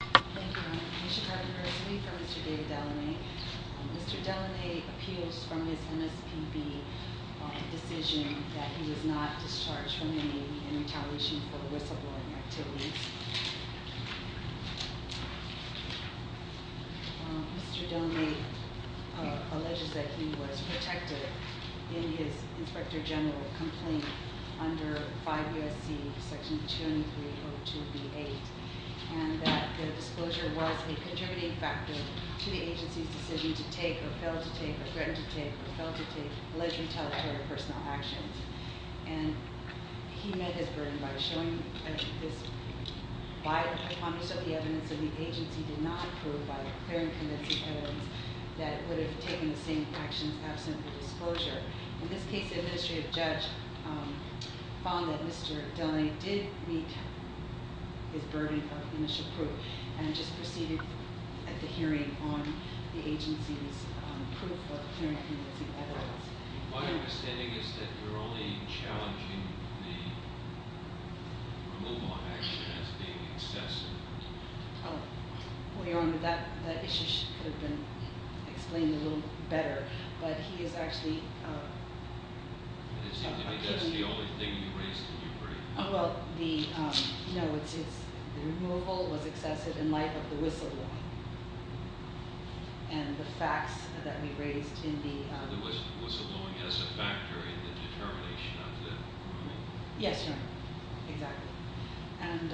Thank you, Your Honor. We should have the resume from Mr. David Delaunay. Mr. Delaunay appeals from his MSPB on the decision that he was not discharged from the Navy in retaliation for whistleblowing activities. Mr. Delaunay alleges that he was protected in his Inspector General complaint under 5 U.S.C. Section 203-02-B8 and that the disclosure was a contributing factor to the agency's decision to take or fail to take or threaten to take or fail to take alleged retaliatory personal actions. And he met his burden by showing this biased hypothesis of the evidence that the agency did not approve by declaring convincing evidence that it would have taken the same actions absent the disclosure. In this case, the administrative judge found that Mr. Delaunay did meet his burden of initial proof and just proceeded at the hearing on the agency's proof of declaring convincing evidence. My understanding is that you're only challenging the removal of action as being excessive. Well, Your Honor, that issue could have been explained a little better, but he is actually- It seems to me that's the only thing you raised in your brief. Well, the removal was excessive in light of the whistleblowing and the facts that we raised in the- The whistleblowing as a factor in the determination of the ruling. Yes, Your Honor, exactly. And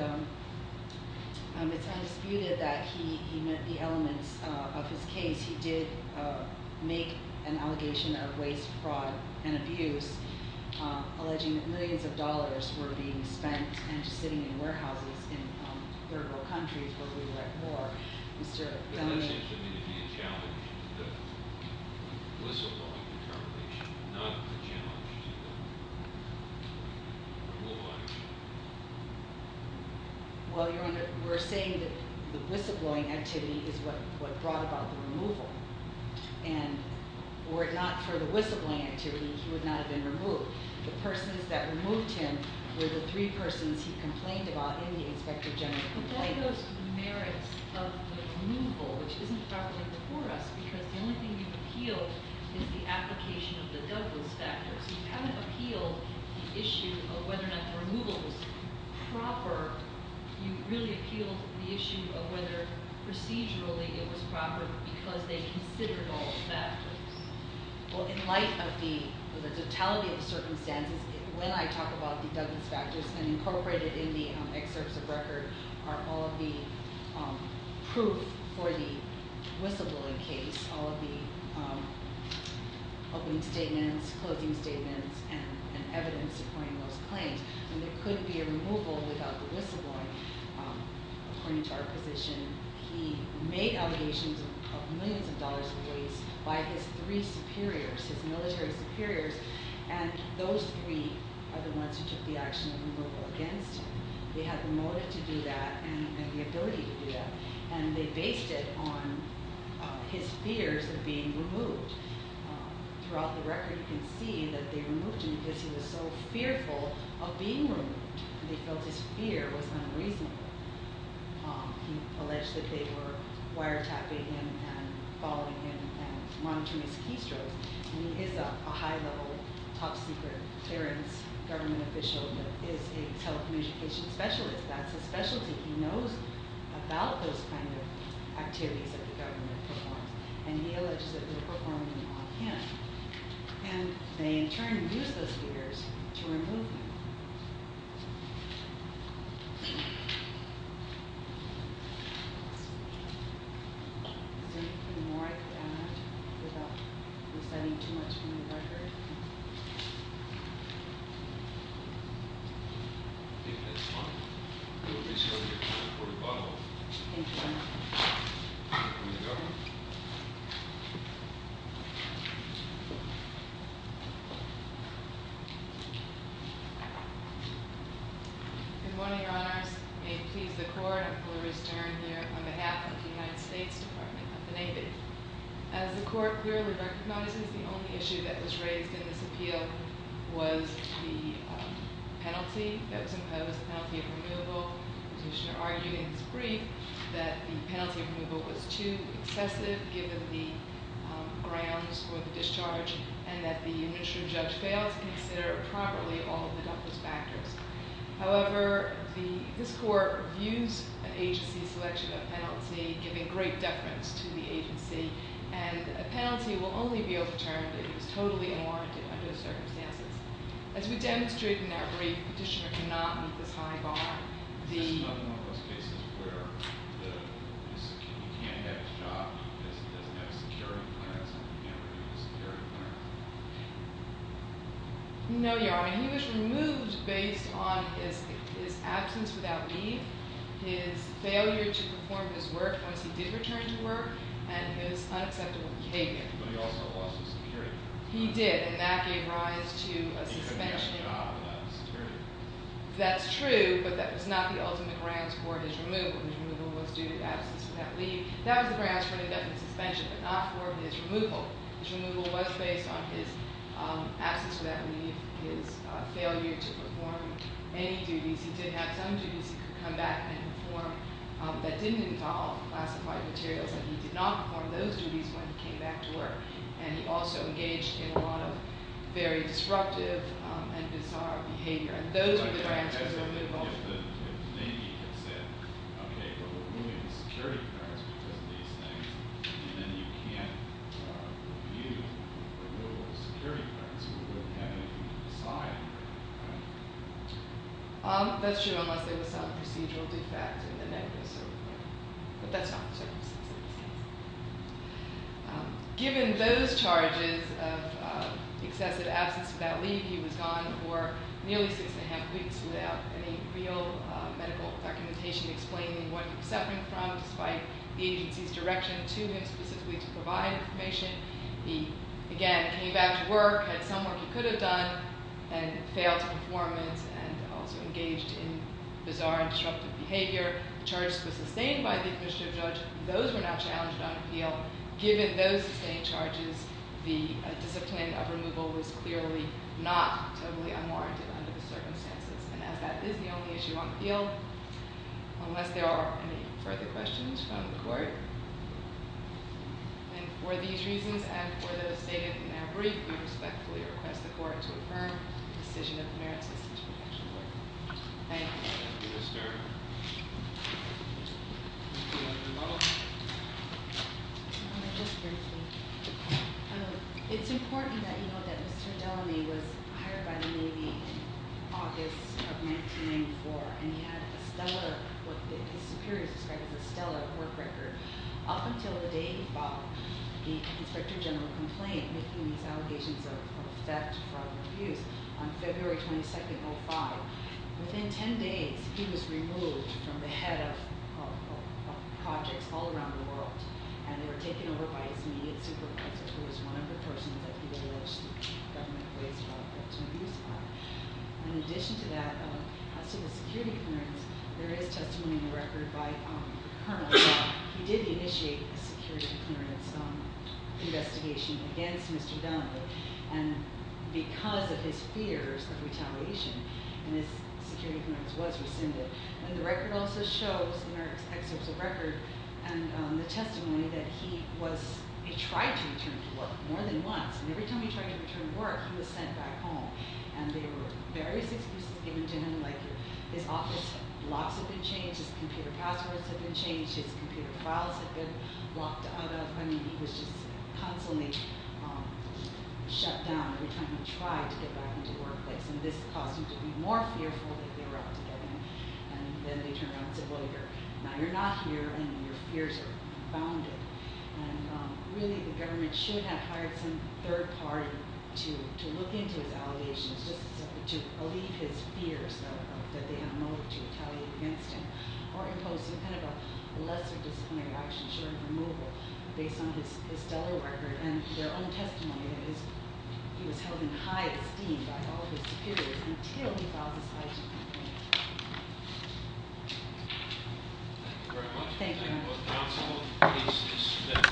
it's undisputed that he met the elements of his case. He did make an allegation of waste, fraud, and abuse, alleging that millions of dollars were being spent and just sitting in warehouses in third world countries where we were at war. It seems to me that you challenged the whistleblowing determination, not the challenge to the removal action. Well, Your Honor, we're saying that the whistleblowing activity is what brought about the removal. And were it not for the whistleblowing activity, he would not have been removed. The persons that removed him were the three persons he complained about in the Inspector General complaint. But why those merits of the removal, which isn't properly before us? Because the only thing you appealed is the application of the Douglas factors. You haven't appealed the issue of whether or not the removal was proper. You really appealed the issue of whether procedurally it was proper because they considered all the factors. Well, in light of the totality of the circumstances, when I talk about the Douglas factors and incorporate it in the excerpts of record, are all of the proof for the whistleblowing case, all of the opening statements, closing statements, and evidence supporting those claims. And there couldn't be a removal without the whistleblowing. According to our position, he made allegations of millions of dollars in waste by his three superiors, his military superiors. And those three are the ones who took the action of removal against him. They had the motive to do that and the ability to do that. And they based it on his fears of being removed. Throughout the record, you can see that they removed him because he was so fearful of being removed. They felt his fear was unreasonable. He alleged that they were wiretapping him and following him and monitoring his keystrokes. And he is a high-level, top-secret clearance government official that is a telecommunications specialist. That's his specialty. He knows about those kind of activities that the government performs. And he alleges that they were performing them on him. And they, in turn, used those fears to remove him. Thank you. Is there anything more I could add without reciting too much from the record? I think that's all. We will be chairing the report at the bottom. Thank you very much. Thank you, Mr. Governor. Good morning, Your Honors. May it please the Court, I'm Gloria Stern here on behalf of the United States Department of the Navy. As the Court clearly recognizes, the only issue that was raised in this appeal was the penalty that was imposed, the penalty of removal. The petitioner argued in his brief that the penalty of removal was too excessive given the grounds for the discharge and that the administrative judge failed to consider properly all of the factors. However, this Court views an agency's selection of penalty giving great deference to the agency. And a penalty will only be overturned if it's totally unwarranted under the circumstances. As we demonstrated in our brief, the petitioner cannot meet this high bar. Is this another one of those cases where you can't have a job because it doesn't have a security clearance and you can't renew the security clearance? No, Your Honor. He was removed based on his absence without leave, his failure to perform his work once he did return to work, and his unacceptable behavior. But he also lost his security. He did, and that gave rise to a suspension. He couldn't have a job without his security clearance. That's true, but that was not the ultimate grounds for his removal. His removal was due to absence without leave. That was the grounds for an indefinite suspension but not for his removal. His removal was based on his absence without leave, his failure to perform any duties. He did have some duties he could come back and perform that didn't involve classified materials, and he did not perform those duties when he came back to work. And he also engaged in a lot of very disruptive and bizarre behavior. And those were the grounds for his removal. If the Navy had said, okay, well, we're removing the security clearance because of these things, and then you can't review the removal of security clearance, we wouldn't have anything to decide, right? That's true, unless there was some procedural defect in the negative. But that's not the circumstance in this case. Given those charges of excessive absence without leave, he was gone for nearly six and a half weeks without any real medical documentation explaining what he was suffering from, despite the agency's direction to him specifically to provide information. He, again, came back to work, had some work he could have done, and failed to perform it and also engaged in bizarre and disruptive behavior. The charges were sustained by the administrative judge. Those were not challenged on appeal. Given those sustained charges, the discipline of removal was clearly not totally unwarranted under the circumstances. And as that is the only issue on appeal, unless there are any further questions from the court. And for these reasons and for those stated in our brief, we respectfully request the court to affirm the decision of the merits of such an action. Thank you. Thank you, Mr. Do you want to rebuttal? Just briefly. It's important that you know that Mr. Delany was hired by the Navy in August of 1994, and he had a stellar, what his superiors described as a stellar work record. Up until the day he filed the Inspector General complaint, making these allegations of theft, fraud, and abuse, on February 22nd, 05. Within 10 days, he was removed from the head of projects all around the world, and they were taken over by his immediate supervisor, who was one of the persons that he alleged the government placed a theft and abuse on. In addition to that, as to the security clearance, there is testimony in the record by the Colonel that he did initiate a security clearance investigation against Mr. Delany. Because of his fears of retaliation, his security clearance was rescinded. The record also shows, in our excerpts of the record, the testimony that he tried to return to work more than once, and every time he tried to return to work, he was sent back home. There were various excuses given to him, like his office blocks had been changed, his computer passwords had been changed, his computer files had been locked out of. I mean, he was just constantly shut down every time he tried to get back into the workplace, and this caused him to be more fearful that they were out to get him. And then they turned around and said, well, now you're not here, and your fears are bounded. And really, the government should have hired some third party to look into his allegations, just to alleviate his fears that they had a motive to retaliate against him, or impose some kind of a lesser disciplinary action, sort of removal, based on his stellar record and their own testimony that he was held in high esteem by all of his superiors, until he filed this lawsuit. Thank you very much.